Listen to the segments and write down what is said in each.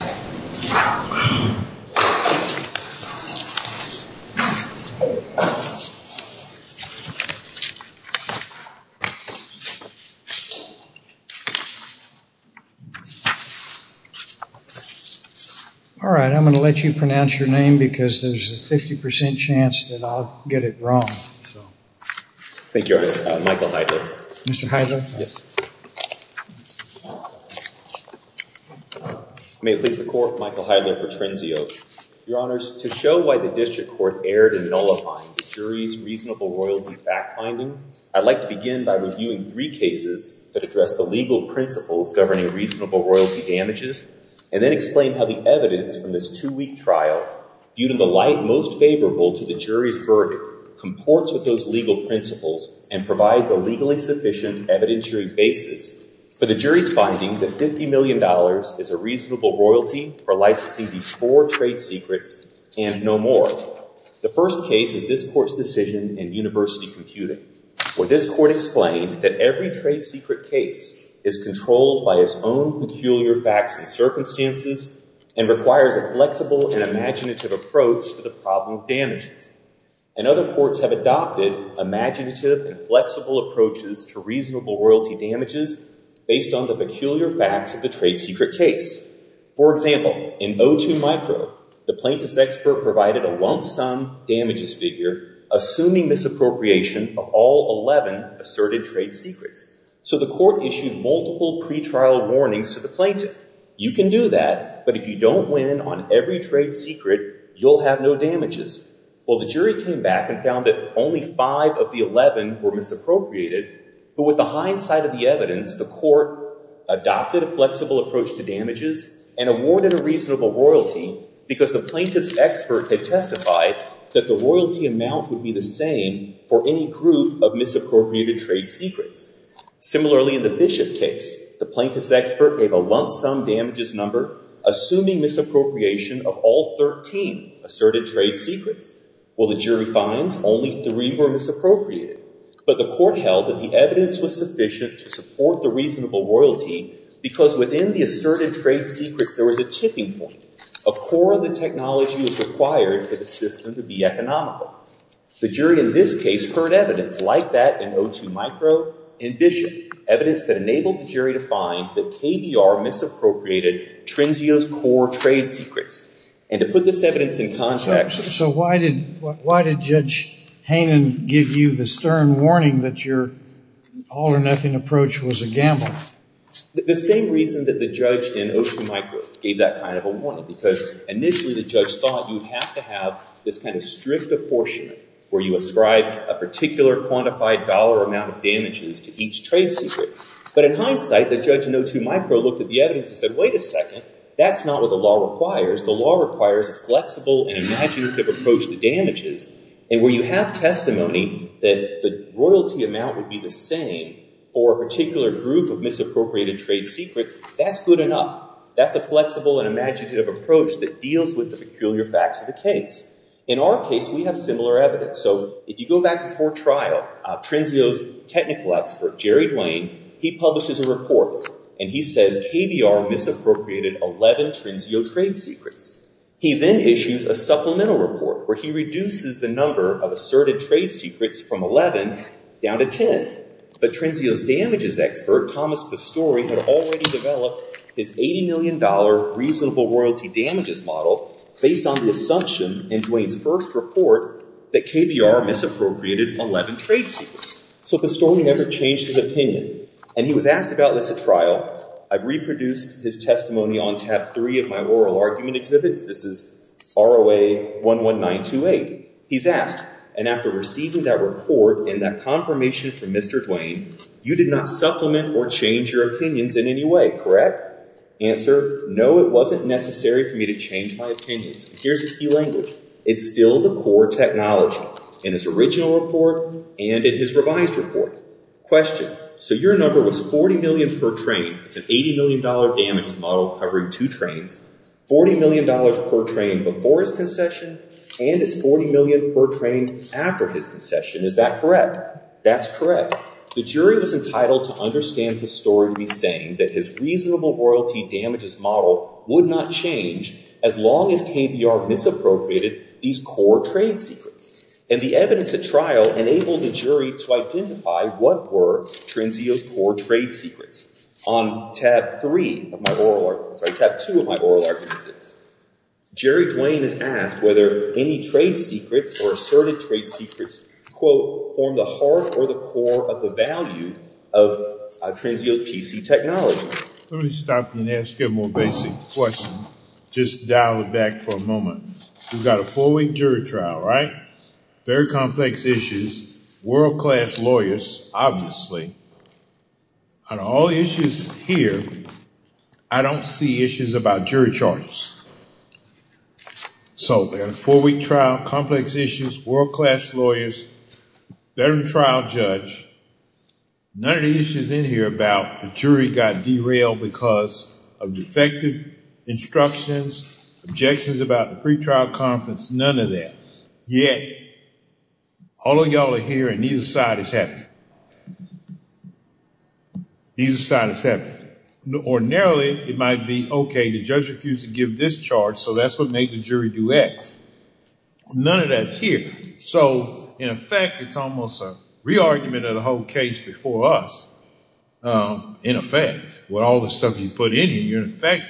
Alright, I'm going to let you pronounce your name because there's a 50% chance that I'll get it wrong. Thank you. Michael Heidler. Mr. Heidler? Yes. May it please the Court, Michael Heidler for Trinseo. Your Honors, to show why the District Court erred in nullifying the jury's reasonable royalty fact-finding, I'd like to begin by reviewing three cases that address the legal principles governing reasonable royalty damages, and then explain how the evidence from this two-week trial, viewed in the light most favorable to the jury's verdict, comports with those and provides a legally sufficient evidentiary basis for the jury's finding that $50 million is a reasonable royalty for licensing these four trade secrets and no more. The first case is this Court's decision in University Computing, where this Court explained that every trade secret case is controlled by its own peculiar facts and circumstances and requires a flexible and imaginative approach to the problem of damages. And other courts have adopted imaginative and flexible approaches to reasonable royalty damages based on the peculiar facts of the trade secret case. For example, in O2 Micro, the plaintiff's expert provided a lump-sum damages figure assuming misappropriation of all 11 asserted trade secrets. So the Court issued multiple pretrial warnings to the plaintiff. You can do that, but if you don't win on every trade secret, you'll have no damages. Well, the jury came back and found that only 5 of the 11 were misappropriated, but with the hindsight of the evidence, the Court adopted a flexible approach to damages and awarded a reasonable royalty because the plaintiff's expert had testified that the royalty amount would be the same for any group of misappropriated trade secrets. Similarly, in the Bishop case, the plaintiff's expert gave a lump-sum damages number assuming misappropriation of all 13 asserted trade secrets. Well, the jury finds only 3 were misappropriated, but the Court held that the evidence was sufficient to support the reasonable royalty because within the asserted trade secrets, there was a tipping point. A core of the technology was required for the system to be economical. The jury in this case heard evidence like that in O2 Micro and Bishop, evidence that enabled the jury to find that KBR misappropriated Trinzio's core trade secrets. And to put this evidence in context… So why did Judge Hainan give you the stern warning that your all-or-nothing approach was a gamble? The same reason that the judge in O2 Micro gave that kind of a warning because initially the judge thought you have to have this kind of strict affordment where you ascribe a particular quantified dollar amount of damages to each trade secret. But in hindsight, the judge in O2 Micro looked at the evidence and said, wait a second. That's not what the law requires. The law requires a flexible and imaginative approach to damages. And where you have testimony that the royalty amount would be the same for a particular group of misappropriated trade secrets, that's good enough. That's a flexible and imaginative approach that deals with the peculiar facts of the case. In our case, we have similar evidence. So if you go back before trial, Trinzio's technical expert, Jerry Duane, he publishes a report and he says KBR misappropriated 11 Trinzio trade secrets. He then issues a supplemental report where he reduces the number of asserted trade secrets from 11 down to 10. But Trinzio's damages expert, Thomas Pastore, had already developed his $80 million reasonable royalty damages model based on the assumption in Duane's first report that KBR misappropriated 11 trade secrets. So Pastore never changed his opinion. And he was asked about this at trial. I've reproduced his testimony on tab three of my oral argument exhibits. This is ROA 11928. He's asked, and after receiving that report and that confirmation from Mr. Duane, you did not supplement or change your opinions in any way, correct? Answer, no, it wasn't necessary for me to change my opinions. Here's the key language. It's still the core technology in his original report and in his revised report. Question, so your number was $40 million per train. It's an $80 million damages model covering two trains. $40 million per train before his concession and it's $40 million per train after his concession. Is that correct? That's correct. The jury was entitled to understand the story to be saying that his reasonable royalty damages model would not change as long as KBR misappropriated these core trade secrets. And the evidence at trial enabled the jury to identify what were Trendzio's core trade secrets on tab three of my oral argument, sorry, tab two of my oral argument exhibits. Jerry Duane is asked whether any trade secrets or asserted trade secrets, quote, form the core of the value of Trendzio's PC technology. Let me stop you and ask you a more basic question. Just dial it back for a moment. We've got a four week jury trial, right? Very complex issues, world class lawyers, obviously. On all issues here, I don't see issues about jury charges. So, we've got a four week trial, complex issues, world class lawyers, veteran trial judge. None of the issues in here about the jury got derailed because of defective instructions, objections about the pre-trial conference, none of that. Yet, all of y'all are here and neither side is happy. Neither side is happy. Ordinarily, it might be, okay, the judge refused to give this charge, so that's what made the jury do X. None of that's here. So, in effect, it's almost a re-argument of the whole case before us. In effect, with all the stuff you put in here, in effect,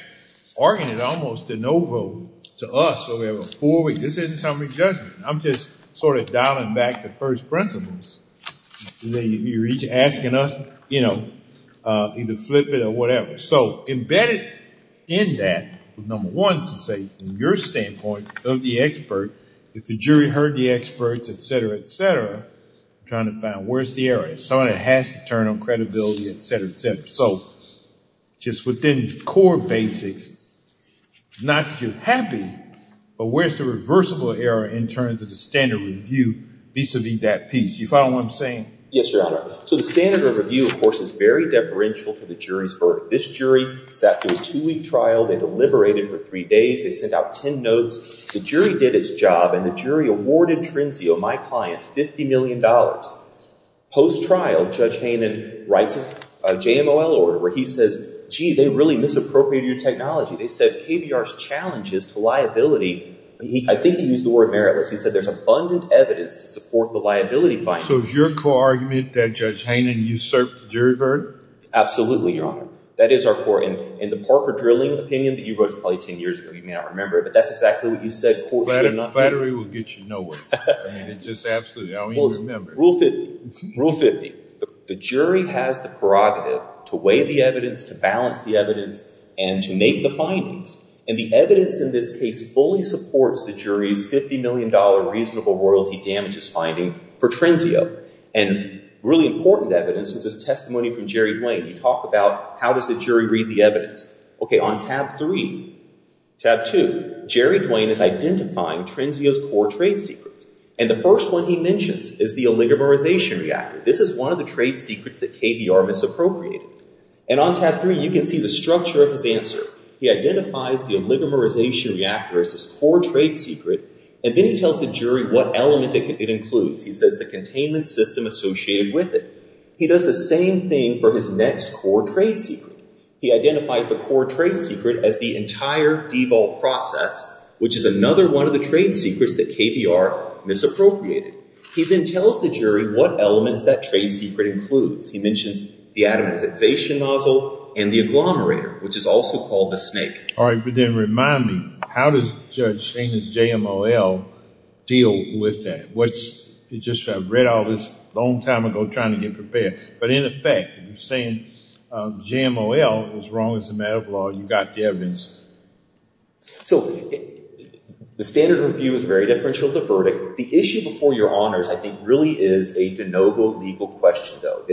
arguing almost a no vote to us so we have a four week. This isn't summary judgment. I'm just sort of dialing back the first principles. You're each asking us, you know, either flip it or whatever. So, embedded in that, number one, to say from your standpoint of the expert, if the jury heard the experts, et cetera, et cetera, trying to find where's the error. Somebody has to turn on credibility, et cetera, et cetera. So, just within core basics, not that you're happy, but where's the reversible error in terms of the standard review vis-a-vis that piece? Do you follow what I'm saying? Yes, Your Honor. So, the standard review, of course, is very deferential to the jury's verdict. This jury sat through a two week trial. They deliberated for three days. They sent out 10 notes. The jury did its job and the jury awarded Trinzio, my client, $50 million. Post-trial, Judge Hayman writes a JMOL order where he says, gee, they really misappropriated your technology. They said KBR's challenge is to liability. I think he used the word meritless. He said there's abundant evidence to support the liability findings. So, is your core argument that Judge Hayman usurped the jury verdict? Absolutely, Your Honor. That is our core. In the Parker drilling opinion that you wrote probably 10 years ago, you may not remember, but that's exactly what you said. Flattery will get you nowhere. I mean, it just absolutely, I don't even remember. Rule 50, the jury has the prerogative to weigh the evidence, to balance the evidence, and to make the findings. And the evidence in this case fully supports the jury's $50 million reasonable royalty damages finding for Trinzio. And really important evidence is his testimony from Jerry Duane. You talk about how does the jury read the evidence? Okay, on tab three, tab two, Jerry Duane is identifying Trinzio's core trade secrets. And the first one he mentions is the oligomerization reactor. This is one of the trade secrets that KBR misappropriated. And on tab three, you can see the structure of his answer. He identifies the oligomerization reactor as his core trade secret, and then he tells the jury what element it includes. He says the containment system associated with it. He does the same thing for his next core trade secret. He identifies the core trade secret as the entire DEVOL process, which is another one of the trade secrets that KBR misappropriated. He then tells the jury what elements that trade secret includes. He mentions the atomization nozzle and the agglomerator, which is also called the snake. All right, but then remind me, how does Judge Shane's JMOL deal with that? What's, it's just, I've read all this a long time ago trying to get prepared. But in effect, you're saying JMOL is wrong as a matter of law. You got the evidence. So the standard review is very differential to verdict. The issue before your honors, I think, really is a de novo legal question, though.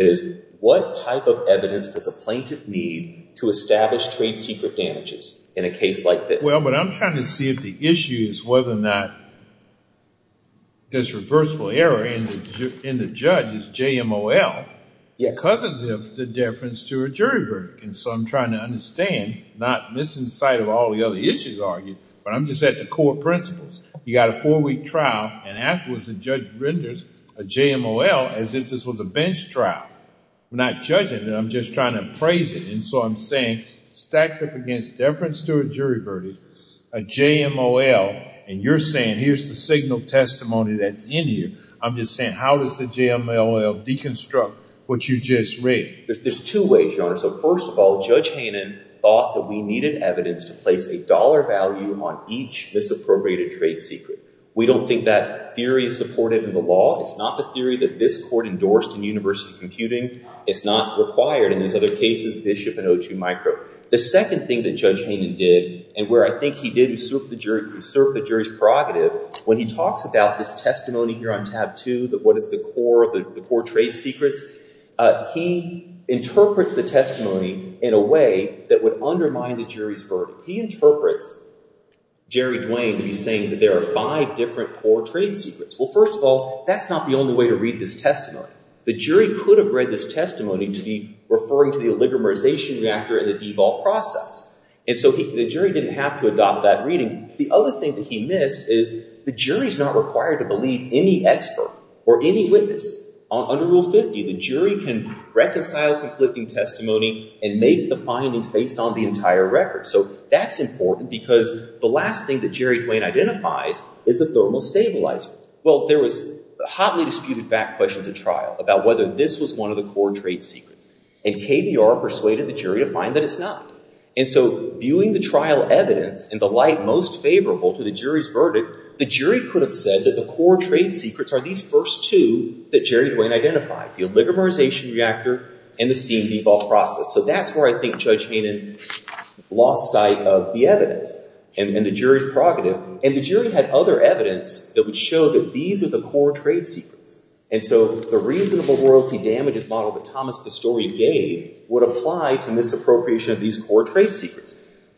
What type of evidence does a plaintiff need to establish trade secret damages in a case like this? Well, but I'm trying to see if the issue is whether or not this reversible error in the judge's JMOL because of the deference to a jury verdict. And so I'm trying to understand, not missing sight of all the other issues argued, but I'm just at the core principles. You got a four-week trial, and afterwards the judge renders a JMOL as if this was a case trial. We're not judging it. I'm just trying to appraise it. And so I'm saying, stacked up against deference to a jury verdict, a JMOL, and you're saying, here's the signal testimony that's in here. I'm just saying, how does the JMOL deconstruct what you just read? There's two ways, your honor. So first of all, Judge Hanen thought that we needed evidence to place a dollar value on each misappropriated trade secret. We don't think that theory is supported in the law. It's not the theory that this court endorsed in university computing. It's not required in these other cases, Bishop and O2 Micro. The second thing that Judge Hanen did, and where I think he did usurp the jury's prerogative, when he talks about this testimony here on tab two, that what is the core trade secrets, he interprets the testimony in a way that would undermine the jury's verdict. He interprets Jerry Duane to be saying that there are five different core trade secrets. Well, first of all, that's not the only way to read this testimony. The jury could have read this testimony to be referring to the oligomerization reactor and the DEVOL process. And so the jury didn't have to adopt that reading. The other thing that he missed is the jury's not required to believe any expert or any witness. Under Rule 50, the jury can reconcile conflicting testimony and make the findings based on the entire record. So that's important because the last thing that Jerry Duane identifies is a thermal stabilizer. Well, there was hotly disputed back questions at trial about whether this was one of the core trade secrets. And KBR persuaded the jury to find that it's not. And so viewing the trial evidence in the light most favorable to the jury's verdict, the jury could have said that the core trade secrets are these first two that Jerry Duane identified, the oligomerization reactor and the steam DEVOL process. So that's where I think Judge Hanen lost sight of the evidence and the jury's prerogative. And the jury had other evidence that would show that these are the core trade secrets. And so the reasonable royalty damages model that Thomas Pastore gave would apply to misappropriation of these core trade secrets.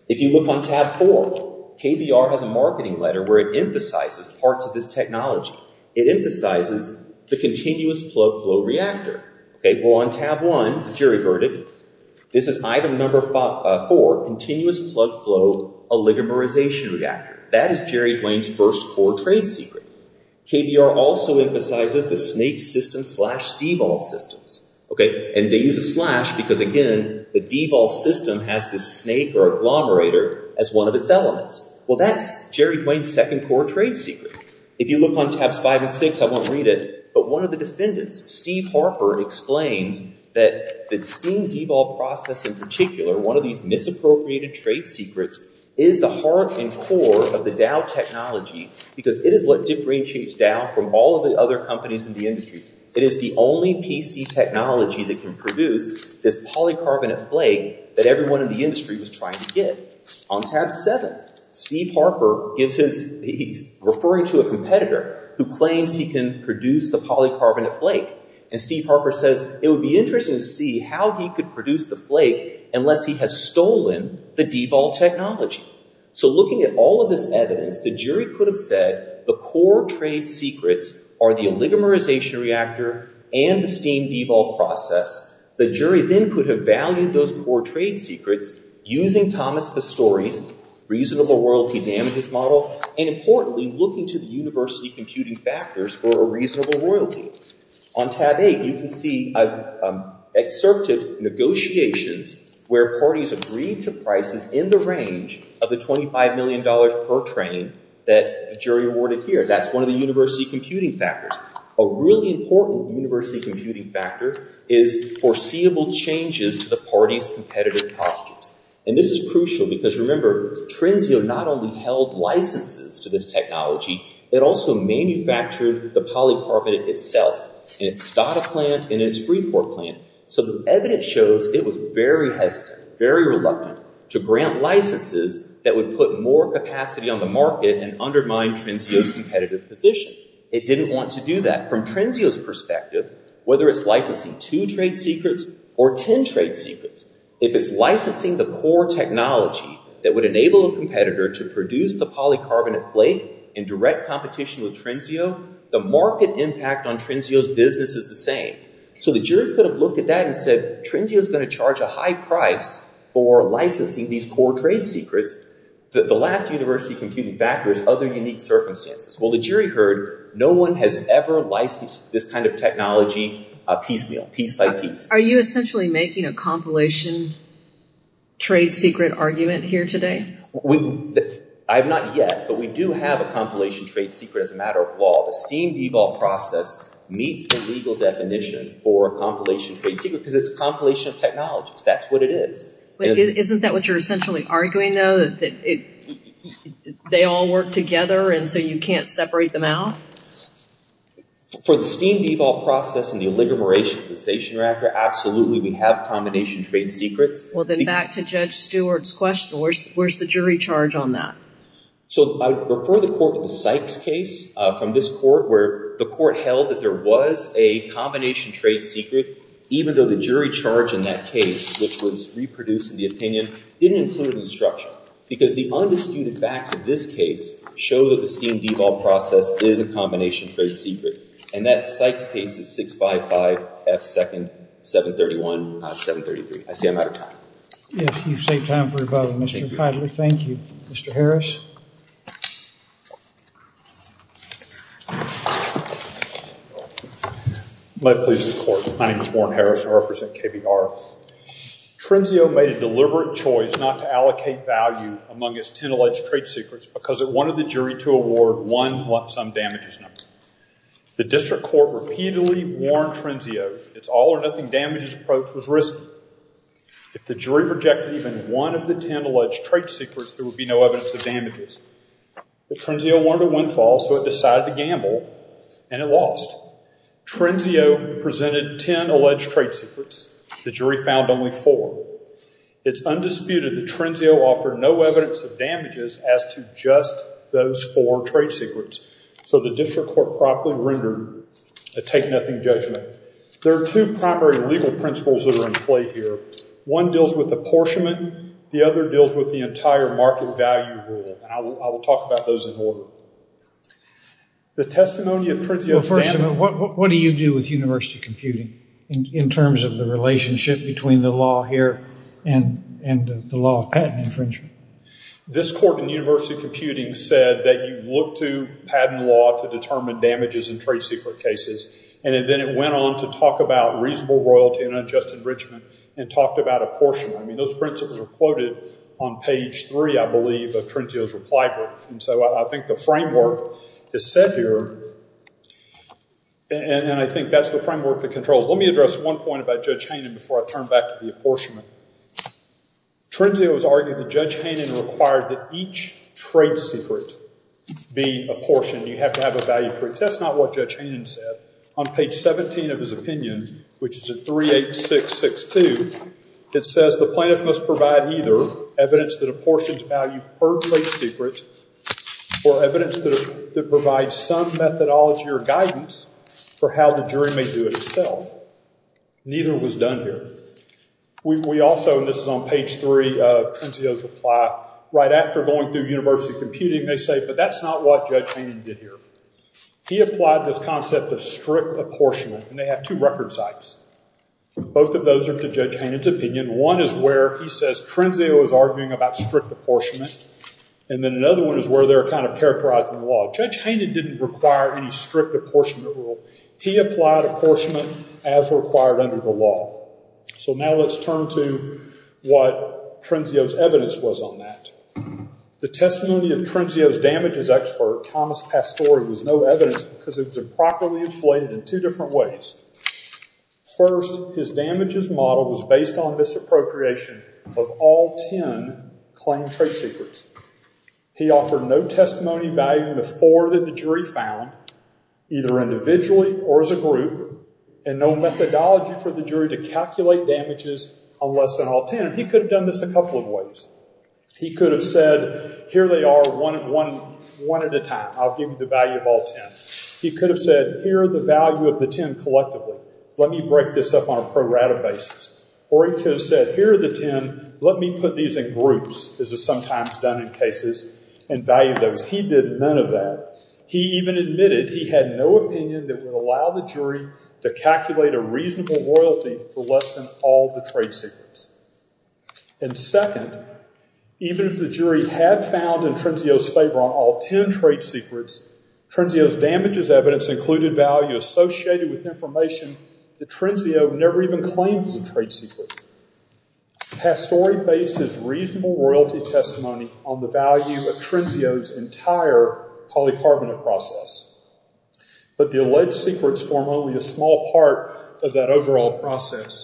If you look on tab four, KBR has a marketing letter where it emphasizes parts of this technology. It emphasizes the continuous plug flow reactor. Okay. Well, on tab one, the jury verdict, this is item number four, continuous plug flow oligomerization reactor. That is Jerry Duane's first core trade secret. KBR also emphasizes the snake system slash DEVOL systems. Okay. And they use a slash because again, the DEVOL system has this snake or agglomerator as one of its elements. Well, that's Jerry Duane's second core trade secret. If you look on tabs five and six, I won't read it, but one of the defendants, Steve Harper explains that the steam DEVOL process in particular, one of these misappropriated trade secrets is the heart and core of the Dow technology because it is what differentiates Dow from all of the other companies in the industry. It is the only PC technology that can produce this polycarbonate flake that everyone in the industry was trying to get. On tab seven, Steve Harper gives his, he's referring to a competitor who claims he can produce the polycarbonate flake. And Steve Harper says it would be interesting to see how he could produce the flake unless he has stolen the DEVOL technology. So looking at all of this evidence, the jury could have said the core trade secrets are the oligomerization reactor and the steam DEVOL process. The jury then could have valued those core trade secrets using Thomas Pastore's reasonable royalty damages model. And importantly, looking to the university computing factors for a reasonable royalty. On tab eight, you can see I've excerpted negotiations where parties agreed to prices in the range of the $25 million per train that the jury awarded here. That's one of the university computing factors. A really important university computing factor is foreseeable changes to the party's competitive costumes. And this is crucial because remember, Trinzio not only held licenses to this technology, it also manufactured the polycarbonate itself in its Stata plant and its Freeport plant. So the evidence shows it was very hesitant, very reluctant to grant licenses that would put more capacity on the market and undermine Trinzio's competitive position. It didn't want to do that. From Trinzio's perspective, whether it's licensing two trade secrets or 10 trade secrets, if it's licensing the core technology that would enable a competitor to produce the polycarbonate in direct competition with Trinzio, the market impact on Trinzio's business is the same. So the jury could have looked at that and said, Trinzio is going to charge a high price for licensing these core trade secrets. The last university computing factor is other unique circumstances. Well, the jury heard no one has ever licensed this kind of technology piecemeal, piece by piece. Are you essentially making a compilation trade secret argument here today? We, I have not yet, but we do have a compilation trade secret as a matter of law. The STEAM-DVOL process meets the legal definition for a compilation trade secret, because it's a compilation of technologies. That's what it is. But isn't that what you're essentially arguing though, that they all work together and so you can't separate them out? For the STEAM-DVOL process and the oligomerationalization record, absolutely we have combination trade secrets. Well, then back to Judge Stewart's question, where's the jury charge on that? So I would refer the court to the Sykes case from this court, where the court held that there was a combination trade secret, even though the jury charge in that case, which was reproduced in the opinion, didn't include it in the structure. Because the undisputed facts of this case show that the STEAM-DVOL process is a combination trade secret. And that Sykes case is 655 F. 2nd, 731, 733. I see I'm out of time. Yes, you've saved time for rebuttal, Mr. Padley. Thank you. Mr. Harris? My pleas to the court. My name is Warren Harris. I represent KBR. Trenzio made a deliberate choice not to allocate value among its 10 alleged trade secrets, because it wanted the jury to award one lump sum damages number. The district court repeatedly warned Trenzio its all-or-nothing damages approach was risky. If the jury rejected even one of the 10 alleged trade secrets, there would be no evidence of damages. But Trenzio wanted a windfall, so it decided to gamble, and it lost. Trenzio presented 10 alleged trade secrets. The jury found only four. It's undisputed that Trenzio offered no evidence of damages as to just those four trade secrets. So the district court promptly rendered a take-nothing judgment. There are two primary legal principles that are in play here. One deals with apportionment. The other deals with the entire market value rule. And I will talk about those in order. The testimony of Trenzio's damage- Well, first of all, what do you do with university computing in terms of the relationship between the law here and the law of patent infringement? This court in university computing said that you look to patent law to determine damages in trade secret cases. And then it went on to talk about reasonable royalty and unjust enrichment and talked about apportionment. I mean, those principles are quoted on page three, I believe, of Trenzio's reply brief. And so I think the framework is set here, and I think that's the framework that controls. Let me address one point about Judge Hanen before I turn back to the apportionment. Trenzio was arguing that Judge Hanen required that each trade secret be apportioned. You have to have a value for- That's not what Judge Hanen said. On page 17 of his opinion, which is at 38662, it says, the plaintiff must provide either evidence that apportions value per trade secret or evidence that provides some methodology or guidance for how the jury may do it itself. Neither was done here. We also, and this is on page three of Trenzio's reply, right after going through university computing, they say, but that's not what Judge Hanen did here. He applied this concept of strict apportionment, and they have two record sites. Both of those are to Judge Hanen's opinion. One is where he says Trenzio is arguing about strict apportionment, and then another one is where they're kind of characterizing the law. Judge Hanen didn't require any strict apportionment rule. He applied apportionment as required under the law. So now let's turn to what Trenzio's evidence was on that. The testimony of Trenzio's damages expert, Thomas Pastore, was no evidence because it was improperly inflated in two different ways. First, his damages model was based on misappropriation of all 10 claimed trade secrets. He offered no testimony valuing the four that the jury found, either individually or as a group, and no methodology for the jury to calculate damages on less than all 10. He could have done this a couple of ways. He could have said, here they are one at a time. I'll give you the value of all 10. He could have said, here are the value of the 10 collectively. Let me break this up on a pro rata basis. Or he could have said, here are the 10. Let me put these in groups, as is sometimes done in cases, and value those. He did none of that. He even admitted he had no opinion that would allow the jury to calculate a reasonable royalty for less than all the trade secrets. And second, even if the jury had found in Trenzio's favor on all 10 trade secrets, Trenzio's damages evidence included value associated with information that Trenzio never even claimed as a trade secret. Pastore based his reasonable royalty testimony on the value of Trenzio's entire polycarbonate process. But the alleged secrets form only a small part of that overall process.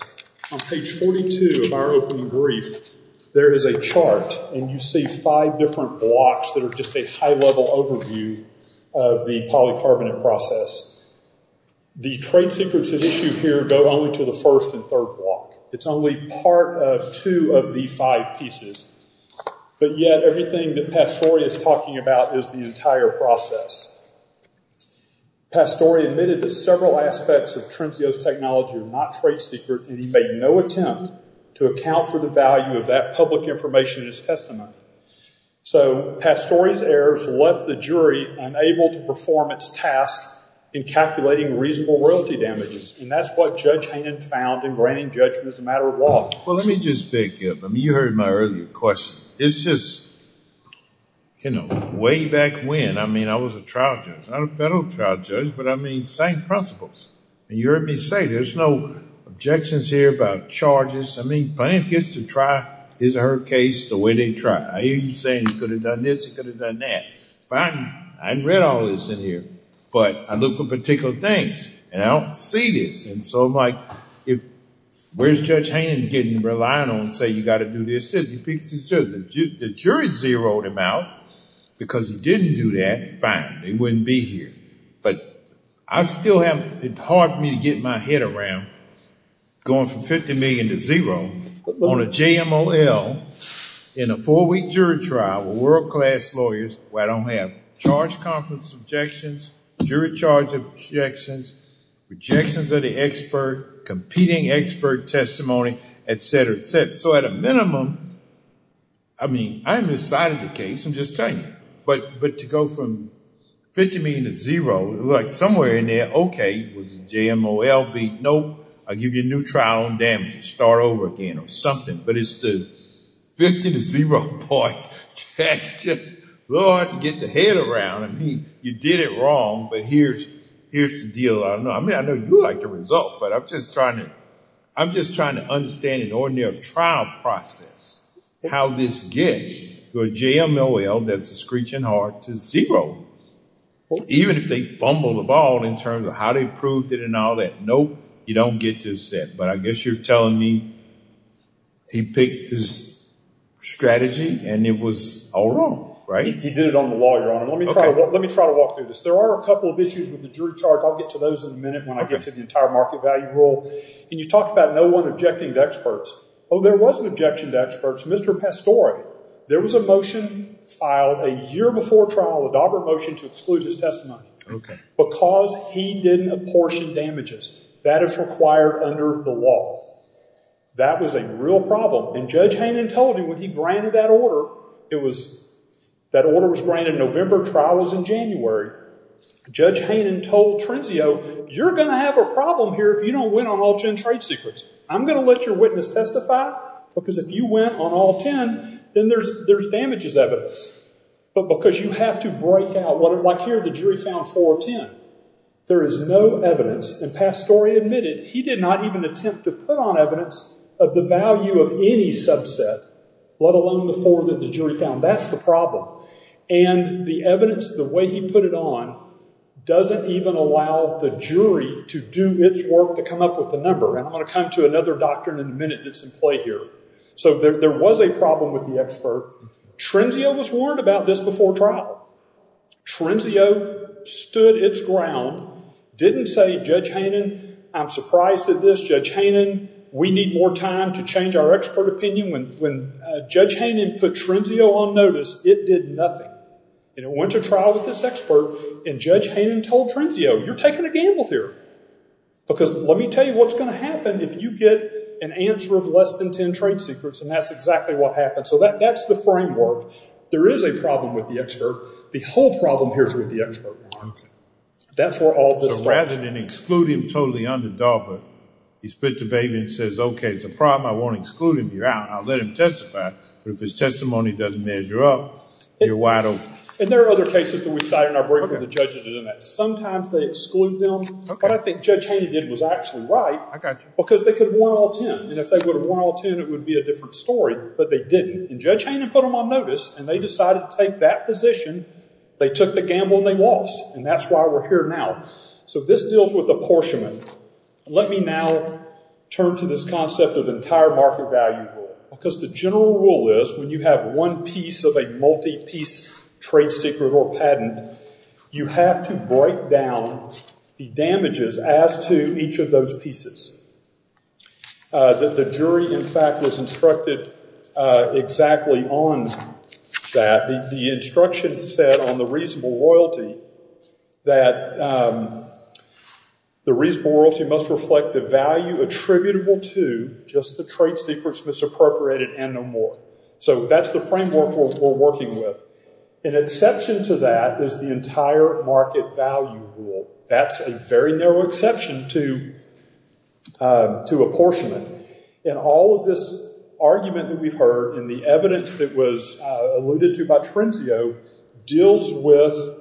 On page 42 of our open brief, there is a chart. And you see five different blocks that are just a high level overview of the polycarbonate process. The trade secrets at issue here go only to the first and third block. It's only part of two of the five pieces. But yet, everything that Pastore is talking about is the entire process. Pastore admitted that several aspects of Trenzio's technology were not trade secret. And he made no attempt to account for the value of that public information in his testimony. So Pastore's errors left the jury unable to perform its task in calculating reasonable royalty damages. And that's what Judge Hannon found in granting judgment as a matter of law. Well, let me just beg you. You heard my earlier question. It's just, you know, way back when, I mean, I was a trial judge. I'm a federal trial judge. But I mean, same principles. And you heard me say, there's no objections here about charges. I mean, plaintiff gets to try his or her case the way they try. I hear you saying he could have done this, he could have done that. Fine. I haven't read all this in here. But I look for particular things. And I don't see this. And so I'm like, where's Judge Hannon getting reliant on, say, you got to do this? The jury zeroed him out because he didn't do that. Fine. They wouldn't be here. But it's hard for me to get my head around going from 50 million to zero on a JMOL in a four-week jury trial with world-class lawyers where I don't have charge conference objections, jury charge objections, rejections of the expert, competing expert testimony, et cetera, et cetera. So at a minimum, I mean, I haven't decided the case. I'm just telling you. But to go from 50 million to zero, like somewhere in there, OK, was the JMOL beat? Nope. I'll give you a new trial on damages. Start over again or something. But it's the 50 to zero point, that's just hard to get the head around. I mean, you did it wrong. But here's the deal. I don't know. I mean, I know you like the result. I'm just trying to understand an ordinary trial process, how this gets to a JMOL, that's a screeching heart, to zero. Even if they fumble the ball in terms of how they proved it and all that. Nope. You don't get to that. But I guess you're telling me he picked his strategy and it was all wrong, right? He did it on the law, Your Honor. Let me try to walk through this. There are a couple of issues with the jury charge. I'll get to those in a minute when I get to the entire market value rule. And you talked about no one objecting to experts. Oh, there was an objection to experts. Mr. Pastore, there was a motion filed a year before trial, a Dobber motion to exclude his testimony because he didn't apportion damages. That is required under the law. That was a real problem. And Judge Hannon told him when he granted that order, it was, that order was granted November, trial was in January. Judge Hannon told Trenzio, you're going to have a problem here if you don't win on all gen trade secrets. I'm going to let your witness testify because if you went on all 10, then there's damage as evidence. But because you have to break out what, like here, the jury found four of 10. There is no evidence. And Pastore admitted he did not even attempt to put on evidence of the value of any subset, let alone the four that the jury found. That's the problem. And the evidence, the way he put it on, doesn't even allow the jury to do its work to come up with the number. And I'm going to come to another doctrine in a minute that's in play here. So there was a problem with the expert. Trenzio was warned about this before trial. Trenzio stood its ground, didn't say, Judge Hannon, I'm surprised at this. Judge Hannon, we need more time to change our expert opinion. When Judge Hannon put Trenzio on notice, it did nothing. And it went to trial with this expert, and Judge Hannon told Trenzio, you're taking a gamble here. Because let me tell you what's going to happen if you get an answer of less than 10 trade secrets, and that's exactly what happened. So that's the framework. There is a problem with the expert. The whole problem here is with the expert. That's where all this starts. So rather than exclude him totally underdog, but he spits the baby and says, OK, it's a problem. I won't exclude him. You're out. I'll let him testify. But if his testimony doesn't measure up, you're wide open. And there are other cases that we cite in our brief where the judges are doing that. Sometimes they exclude them. What I think Judge Hannon did was actually right, because they could have won all 10. And if they would have won all 10, it would be a different story. But they didn't. And Judge Hannon put them on notice, and they decided to take that position. They took the gamble, and they lost. And that's why we're here now. So this deals with apportionment. Let me now turn to this concept of entire market value rule. Because the general rule is, when you have one piece of a multi-piece trade secret or patent, you have to break down the damages as to each of those pieces. The jury, in fact, was instructed exactly on that. The instruction said on the reasonable royalty that the reasonable royalty must reflect the value attributable to just the trade secrets misappropriated and no more. So that's the framework we're working with. An exception to that is the entire market value rule. That's a very narrow exception to apportionment. And all of this argument that we've heard, and the evidence that was alluded to by Tremzio, deals with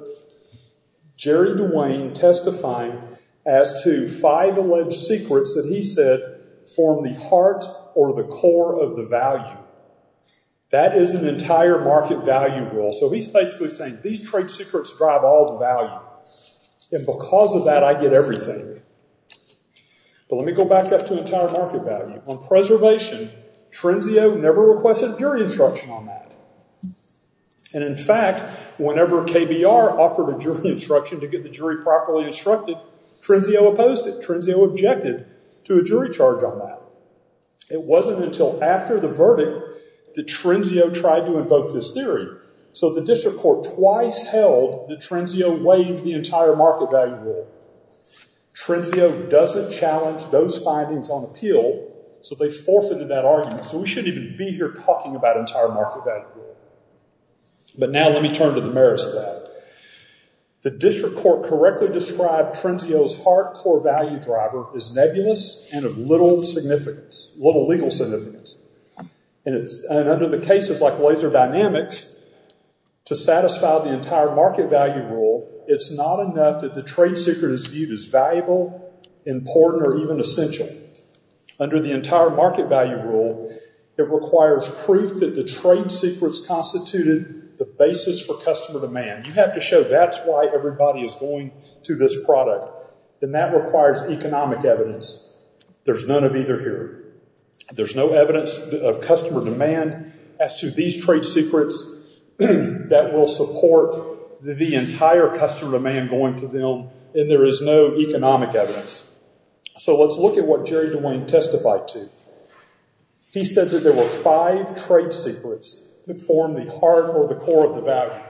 Jerry DeWayne testifying as to five alleged secrets that he said form the heart or the core of the value. That is an entire market value rule. So he's basically saying, these trade secrets drive all the value. And because of that, I get everything. But let me go back up to entire market value. On preservation, Tremzio never requested a jury instruction on that. And in fact, whenever KBR offered a jury instruction to get the jury properly instructed, Tremzio opposed it. Tremzio objected to a jury charge on that. It wasn't until after the verdict that Tremzio tried to invoke this theory. So the district court twice held that Tremzio waived the entire market value rule. Tremzio doesn't challenge those findings on appeal, so they forfeited that argument. So we shouldn't even be here talking about entire market value rule. But now let me turn to the merits of that. The district court correctly described Tremzio's heart core value driver as nebulous and of little significance, little legal significance. And under the cases like Laser Dynamics, to satisfy the entire market value rule, it's not enough that the trade secret is viewed as valuable, important, or even essential. Under the entire market value rule, it requires proof that the trade secrets constituted the basis for customer demand. You have to show that's why everybody is going to this product. Then that requires economic evidence. There's none of either here. There's no evidence of customer demand as to these trade secrets that will support the entire customer demand going to them. And there is no economic evidence. So let's look at what Jerry DeWayne testified to. He said that there were five trade secrets that form the heart or the core of the value.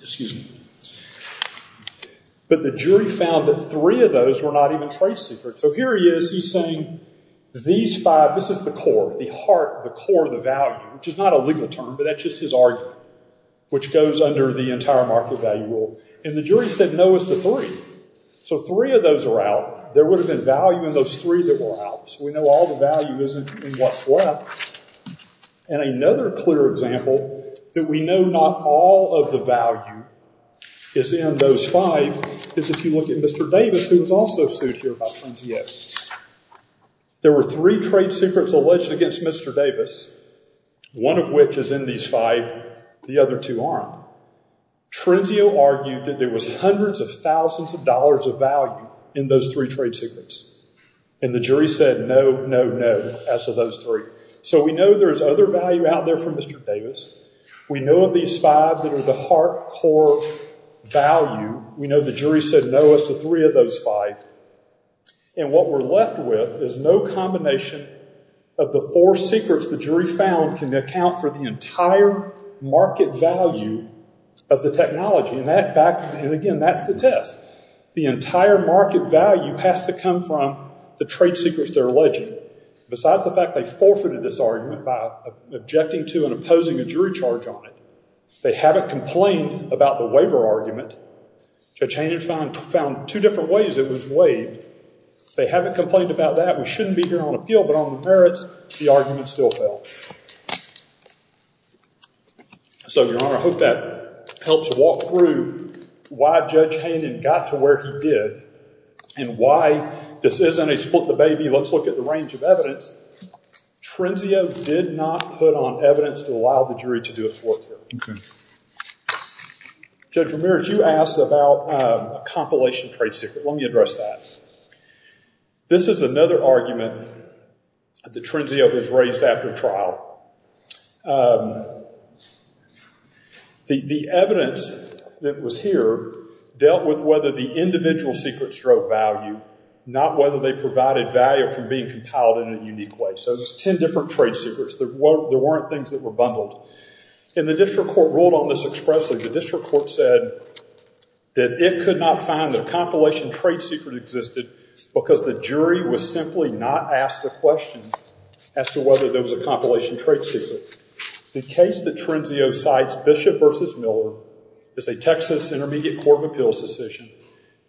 Excuse me. But the jury found that three of those were not even trade secrets. So here he is. He's saying these five, this is the core, the heart, the core of the value, which is not a legal term, but that's just his argument, which goes under the entire market value rule. And the jury said, no, it's the three. So three of those are out. There would have been value in those three that were out. So we know all the value isn't in what's left. And another clear example that we know not all of the value is in those five is if you look at Mr. Davis, who was also sued here by Trenzio. There were three trade secrets alleged against Mr. Davis, one of which is in these five. The other two aren't. Trenzio argued that there was hundreds of thousands of dollars of value in those three trade secrets. And the jury said, no, no, no, as to those three. We know there's other value out there for Mr. Davis. We know of these five that are the heart, core value. We know the jury said, no, it's the three of those five. And what we're left with is no combination of the four secrets the jury found can account for the entire market value of the technology. And again, that's the test. The entire market value has to come from the trade secrets they're alleging. Besides the fact they forfeited this argument by objecting to and opposing a jury charge on it, they haven't complained about the waiver argument. Judge Hayden found two different ways it was waived. They haven't complained about that. We shouldn't be here on appeal, but on the merits, the argument still fell. So, Your Honor, I hope that helps walk through why Judge Hayden got to where he did and why this isn't a split the baby, let's look at the range of evidence. Trenzio did not put on evidence to allow the jury to do its work here. Judge Ramirez, you asked about a compilation trade secret. Let me address that. This is another argument that Trenzio has raised after trial. The evidence that was here dealt with whether the individual secret stroke value, not whether they provided value from being compiled in a unique way. So there's 10 different trade secrets. There weren't things that were bundled. And the district court ruled on this expressly. The district court said that it could not find the compilation trade secret existed because the jury was simply not asked the question as to whether there was a compilation trade secret. The case that Trenzio cites, Bishop v. Miller, is a Texas Intermediate Court of Appeals decision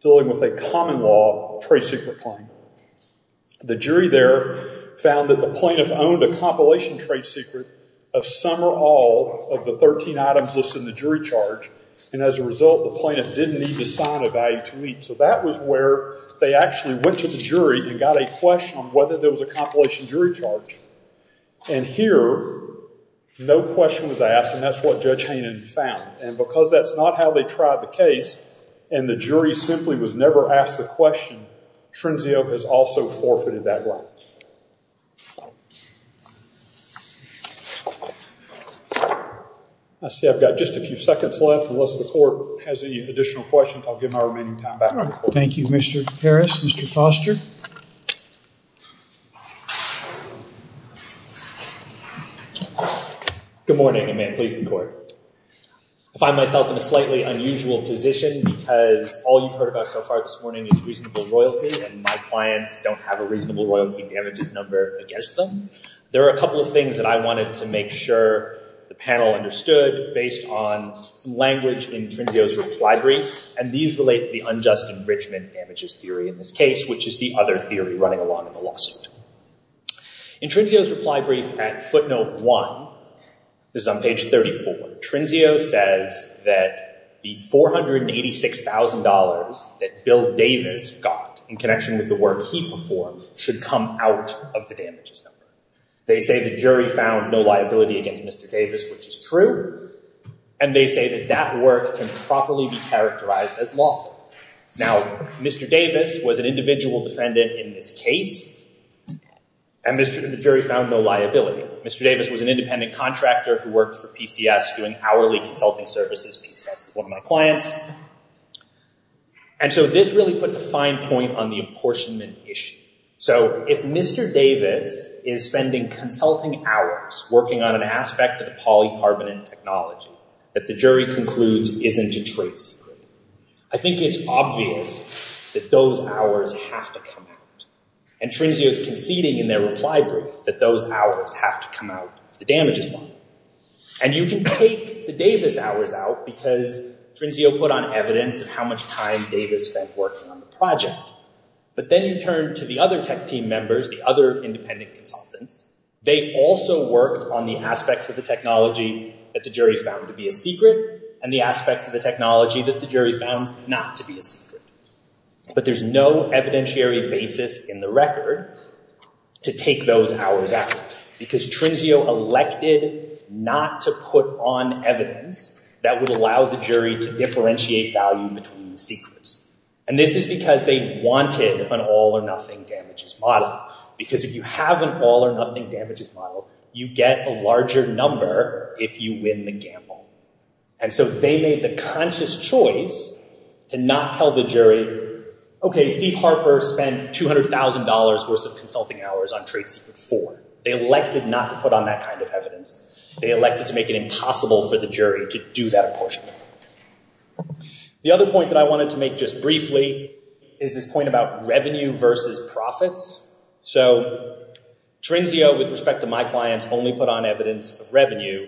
dealing with a common law trade secret claim. The jury there found that the plaintiff owned a compilation trade secret of some or all of the 13 items listed in the jury charge. And as a result, the plaintiff didn't need to sign a value to meet. So that was where they actually went to the jury and got a question on whether there was a compilation jury charge. And here, no question was asked. And that's what Judge Hayden found. And because that's not how they tried the case and the jury simply was never asked the question, Trenzio has also forfeited that right. Let's see, I've got just a few seconds left unless the court has any additional questions. I'll give my remaining time back. All right. Thank you, Mr. Harris. Mr. Foster. Good morning, and may it please the court. I find myself in a slightly unusual position because all you've heard about so far this morning is reasonable royalty and my clients don't have a reasonable royalty damages number against them. There are a couple of things that I wanted to make sure the panel understood based on some language in Trenzio's reply brief. And these relate to the unjust enrichment damages theory in this case, which is the other theory running along in the lawsuit. In Trenzio's reply brief at footnote one, this is on page 34, Trenzio says that the $486,000 that Bill Davis got in connection with the work he performed should come out of the damages number. They say the jury found no liability against Mr. Davis, which is true. And they say that that work can properly be characterized as lawful. Now, Mr. Davis was an individual defendant in this case. And the jury found no liability. Mr. Davis was an independent contractor who worked for PCS doing hourly consulting services. PCS is one of my clients. And so this really puts a fine point on the apportionment issue. So if Mr. Davis is spending consulting hours working on an aspect of polycarbonate technology that the jury concludes isn't a trade secret, I think it's obvious that those hours have to come out. And Trenzio is conceding in their reply brief that those hours have to come out of the damages one. And you can take the Davis hours out because Trenzio put on evidence of how much time Davis spent working on the project. But then you turn to the other tech team members, the other independent consultants. They also work on the aspects of the technology that the jury found to be a secret and the aspects of the technology that the jury found not to be a secret. But there's no evidentiary basis in the record to take those hours out because Trenzio elected not to put on evidence that would allow the jury to differentiate value between the secrets. And this is because they wanted an all or nothing damages model because if you have an all or nothing damages model, you get a larger number if you win the gamble. And so they made the conscious choice to not tell the jury, okay, Steve Harper spent $200,000 worth of consulting hours on trade secret four. They elected not to put on that kind of evidence. They elected to make it impossible for the jury to do that apportionment. The other point that I wanted to make just briefly is this point about revenue versus profits. So Trenzio, with respect to my clients, only put on evidence of revenue.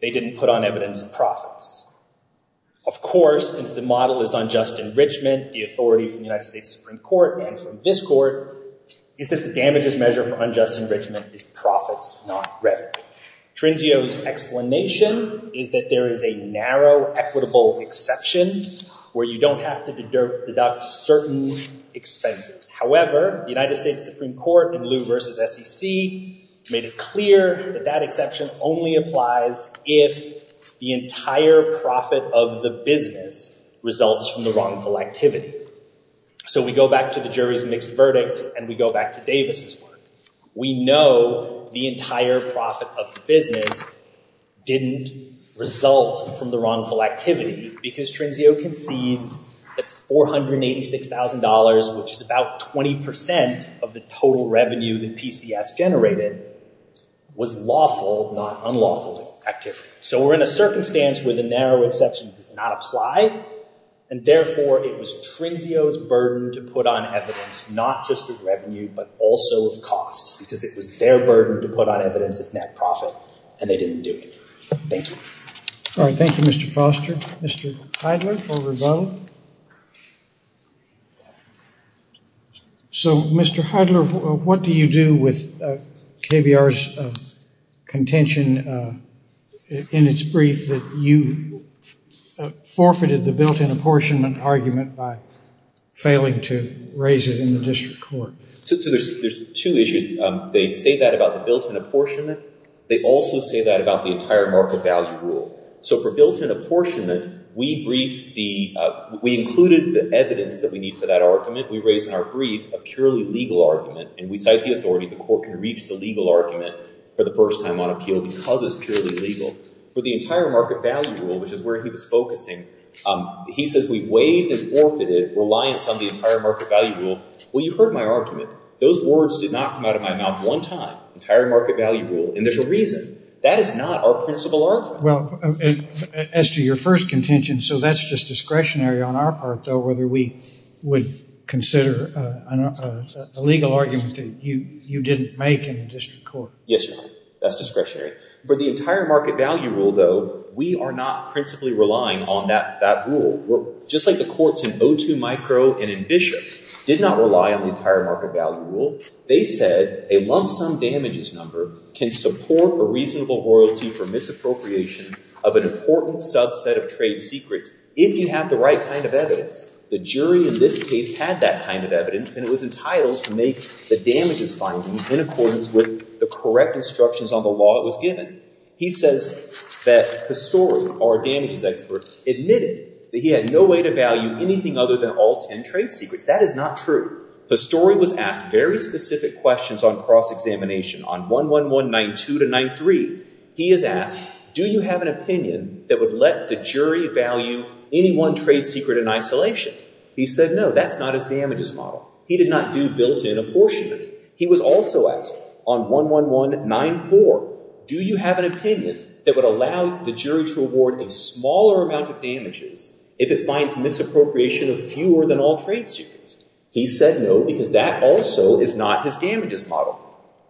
They didn't put on evidence of profits. Of course, since the model is unjust enrichment, the authority from the United States Supreme Court and from this court is that the damages measure for unjust enrichment is profits, not revenue. Trenzio's explanation is that there is a narrow equitable exception where you don't have to deduct certain expenses. However, the United States Supreme Court in Lew versus SEC made it clear that that exception only applies if the entire profit of the business results from the wrongful activity. So we go back to the jury's mixed verdict and we go back to Davis's work. We know the entire profit of the business didn't result from the wrongful activity because Trenzio concedes that $486,000, which is about 20% of the total revenue that PCS generated, was lawful, not unlawful activity. So we're in a circumstance where the narrow exception does not apply and therefore it was Trenzio's burden to put on evidence, not just of revenue, but also of costs because it was their burden to put on evidence of net profit and they didn't do it. Thank you. All right. Thank you, Mr. Foster. Mr. Heidler for rebuttal. So, Mr. Heidler, what do you do with KBR's contention in its brief that you forfeited the built-in apportionment argument by failing to raise it in the district court? There's two issues. They say that about the built-in apportionment. They also say that about the entire market value rule. So for built-in apportionment, we briefed the... We raised in our brief a purely legal argument and we cite the authority the court can reach the legal argument for the first time on appeal because it's purely legal. For the entire market value rule, which is where he was focusing, he says we weighed and forfeited reliance on the entire market value rule. Well, you heard my argument. Those words did not come out of my mouth one time. Entire market value rule. And there's a reason. That is not our principal argument. Well, as to your first contention, so that's just discretionary on our part, though, whether we would consider a legal argument that you didn't make in the district court. Yes, Your Honor. That's discretionary. For the entire market value rule, though, we are not principally relying on that rule. Just like the courts in O2 Micro and in Bishop did not rely on the entire market value rule. They said a lump sum damages number can support a reasonable royalty for misappropriation of an important subset of trade secrets if you have the right kind of evidence. The jury in this case had that kind of evidence and it was entitled to make the damages findings in accordance with the correct instructions on the law it was given. He says that Pastore, our damages expert, admitted that he had no way to value anything other than all 10 trade secrets. That is not true. Pastore was asked very specific questions on cross-examination. On 11192-93, he is asked, do you have an opinion that would let the jury value any one trade secret in isolation? He said no, that's not his damages model. He did not do built-in apportionment. He was also asked on 11194, do you have an opinion that would allow the jury to award a smaller amount of damages if it finds misappropriation of fewer than all trade secrets? He said no, because that also is not his damages model.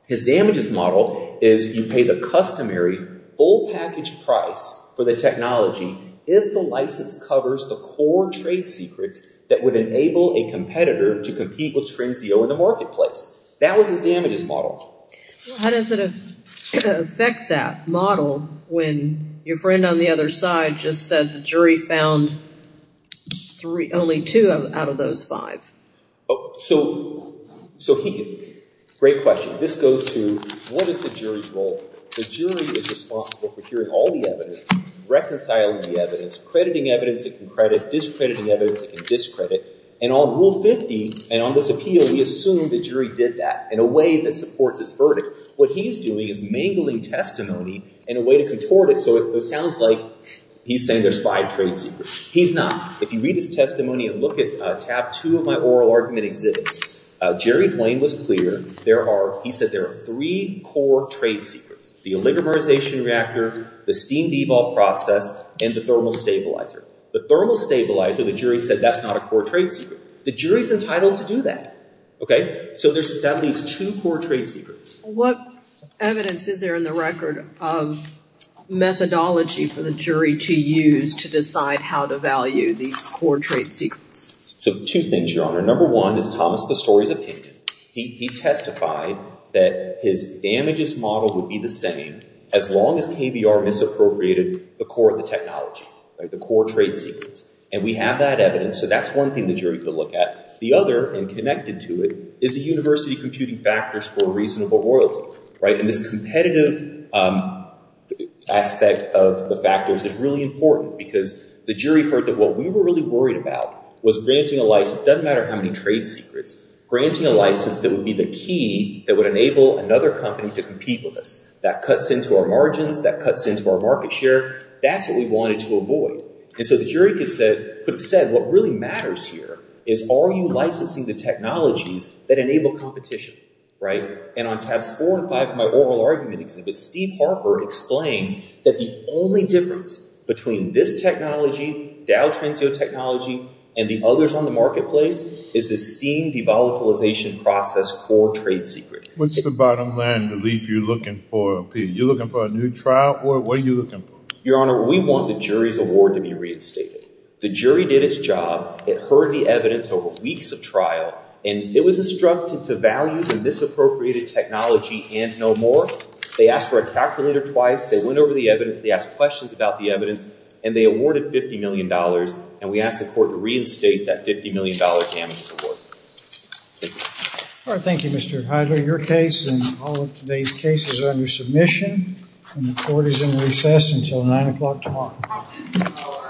His damages model is you pay the customary full package price for the technology if the license covers the core trade secrets that would enable a competitor to compete with TrendCO in the marketplace. That was his damages model. How does it affect that model when your friend on the other side just said the jury found only two out of those five? So great question. This goes to what is the jury's role? The jury is responsible for hearing all the evidence, reconciling the evidence, crediting evidence that can credit, discrediting evidence that can discredit. And on Rule 50 and on this appeal, we assume the jury did that in a way that supports his verdict. What he's doing is mangling testimony in a way to contort it so it sounds like he's saying there's five trade secrets. He's not. If you read his testimony and look at tab two of my oral argument exhibits, Jerry Blaine was clear. There are, he said there are three core trade secrets. The oligomerization reactor, the steam debault process, and the thermal stabilizer. The thermal stabilizer, the jury said that's not a core trade secret. The jury's entitled to do that, okay? So that leaves two core trade secrets. What evidence is there in the record of methodology for the jury to use to decide how to value these core trade secrets? So two things, Your Honor. Number one is Thomas Pastore's opinion. He testified that his damages model would be the same as long as KBR misappropriated the core of the technology, the core trade secrets. And we have that evidence, so that's one thing the jury could look at. The other, and connected to it, is the university computing factors for a reasonable royalty, right? And this competitive aspect of the factors is really important because the jury heard that what we were really worried about was granting a license, doesn't matter how many trade secrets, granting a license that would be the key that would enable another company to compete with us. That cuts into our margins, that cuts into our market share. That's what we wanted to avoid. And so the jury could have said, what really matters here is are you licensing the technologies that enable competition, right? And on tabs four and five of my oral argument, Steve Harper explains that the only difference between this technology, Dow Transio technology, and the others on the marketplace is the steam de-volatilization process core trade secret. What's the bottom line relief you're looking for, Pete? You're looking for a new trial? What are you looking for? Your Honor, we want the jury's award to be reinstated. The jury did its job. It heard the evidence over weeks of trial, and it was instructed to value the misappropriated technology and no more. They asked for a calculator twice. They went over the evidence. They asked questions about the evidence, and they awarded $50 million. And we ask the court to reinstate that $50 million damages award. All right, thank you, Mr. Heidler. Your case and all of today's cases are under submission, and the court is in recess until 9 o'clock tomorrow.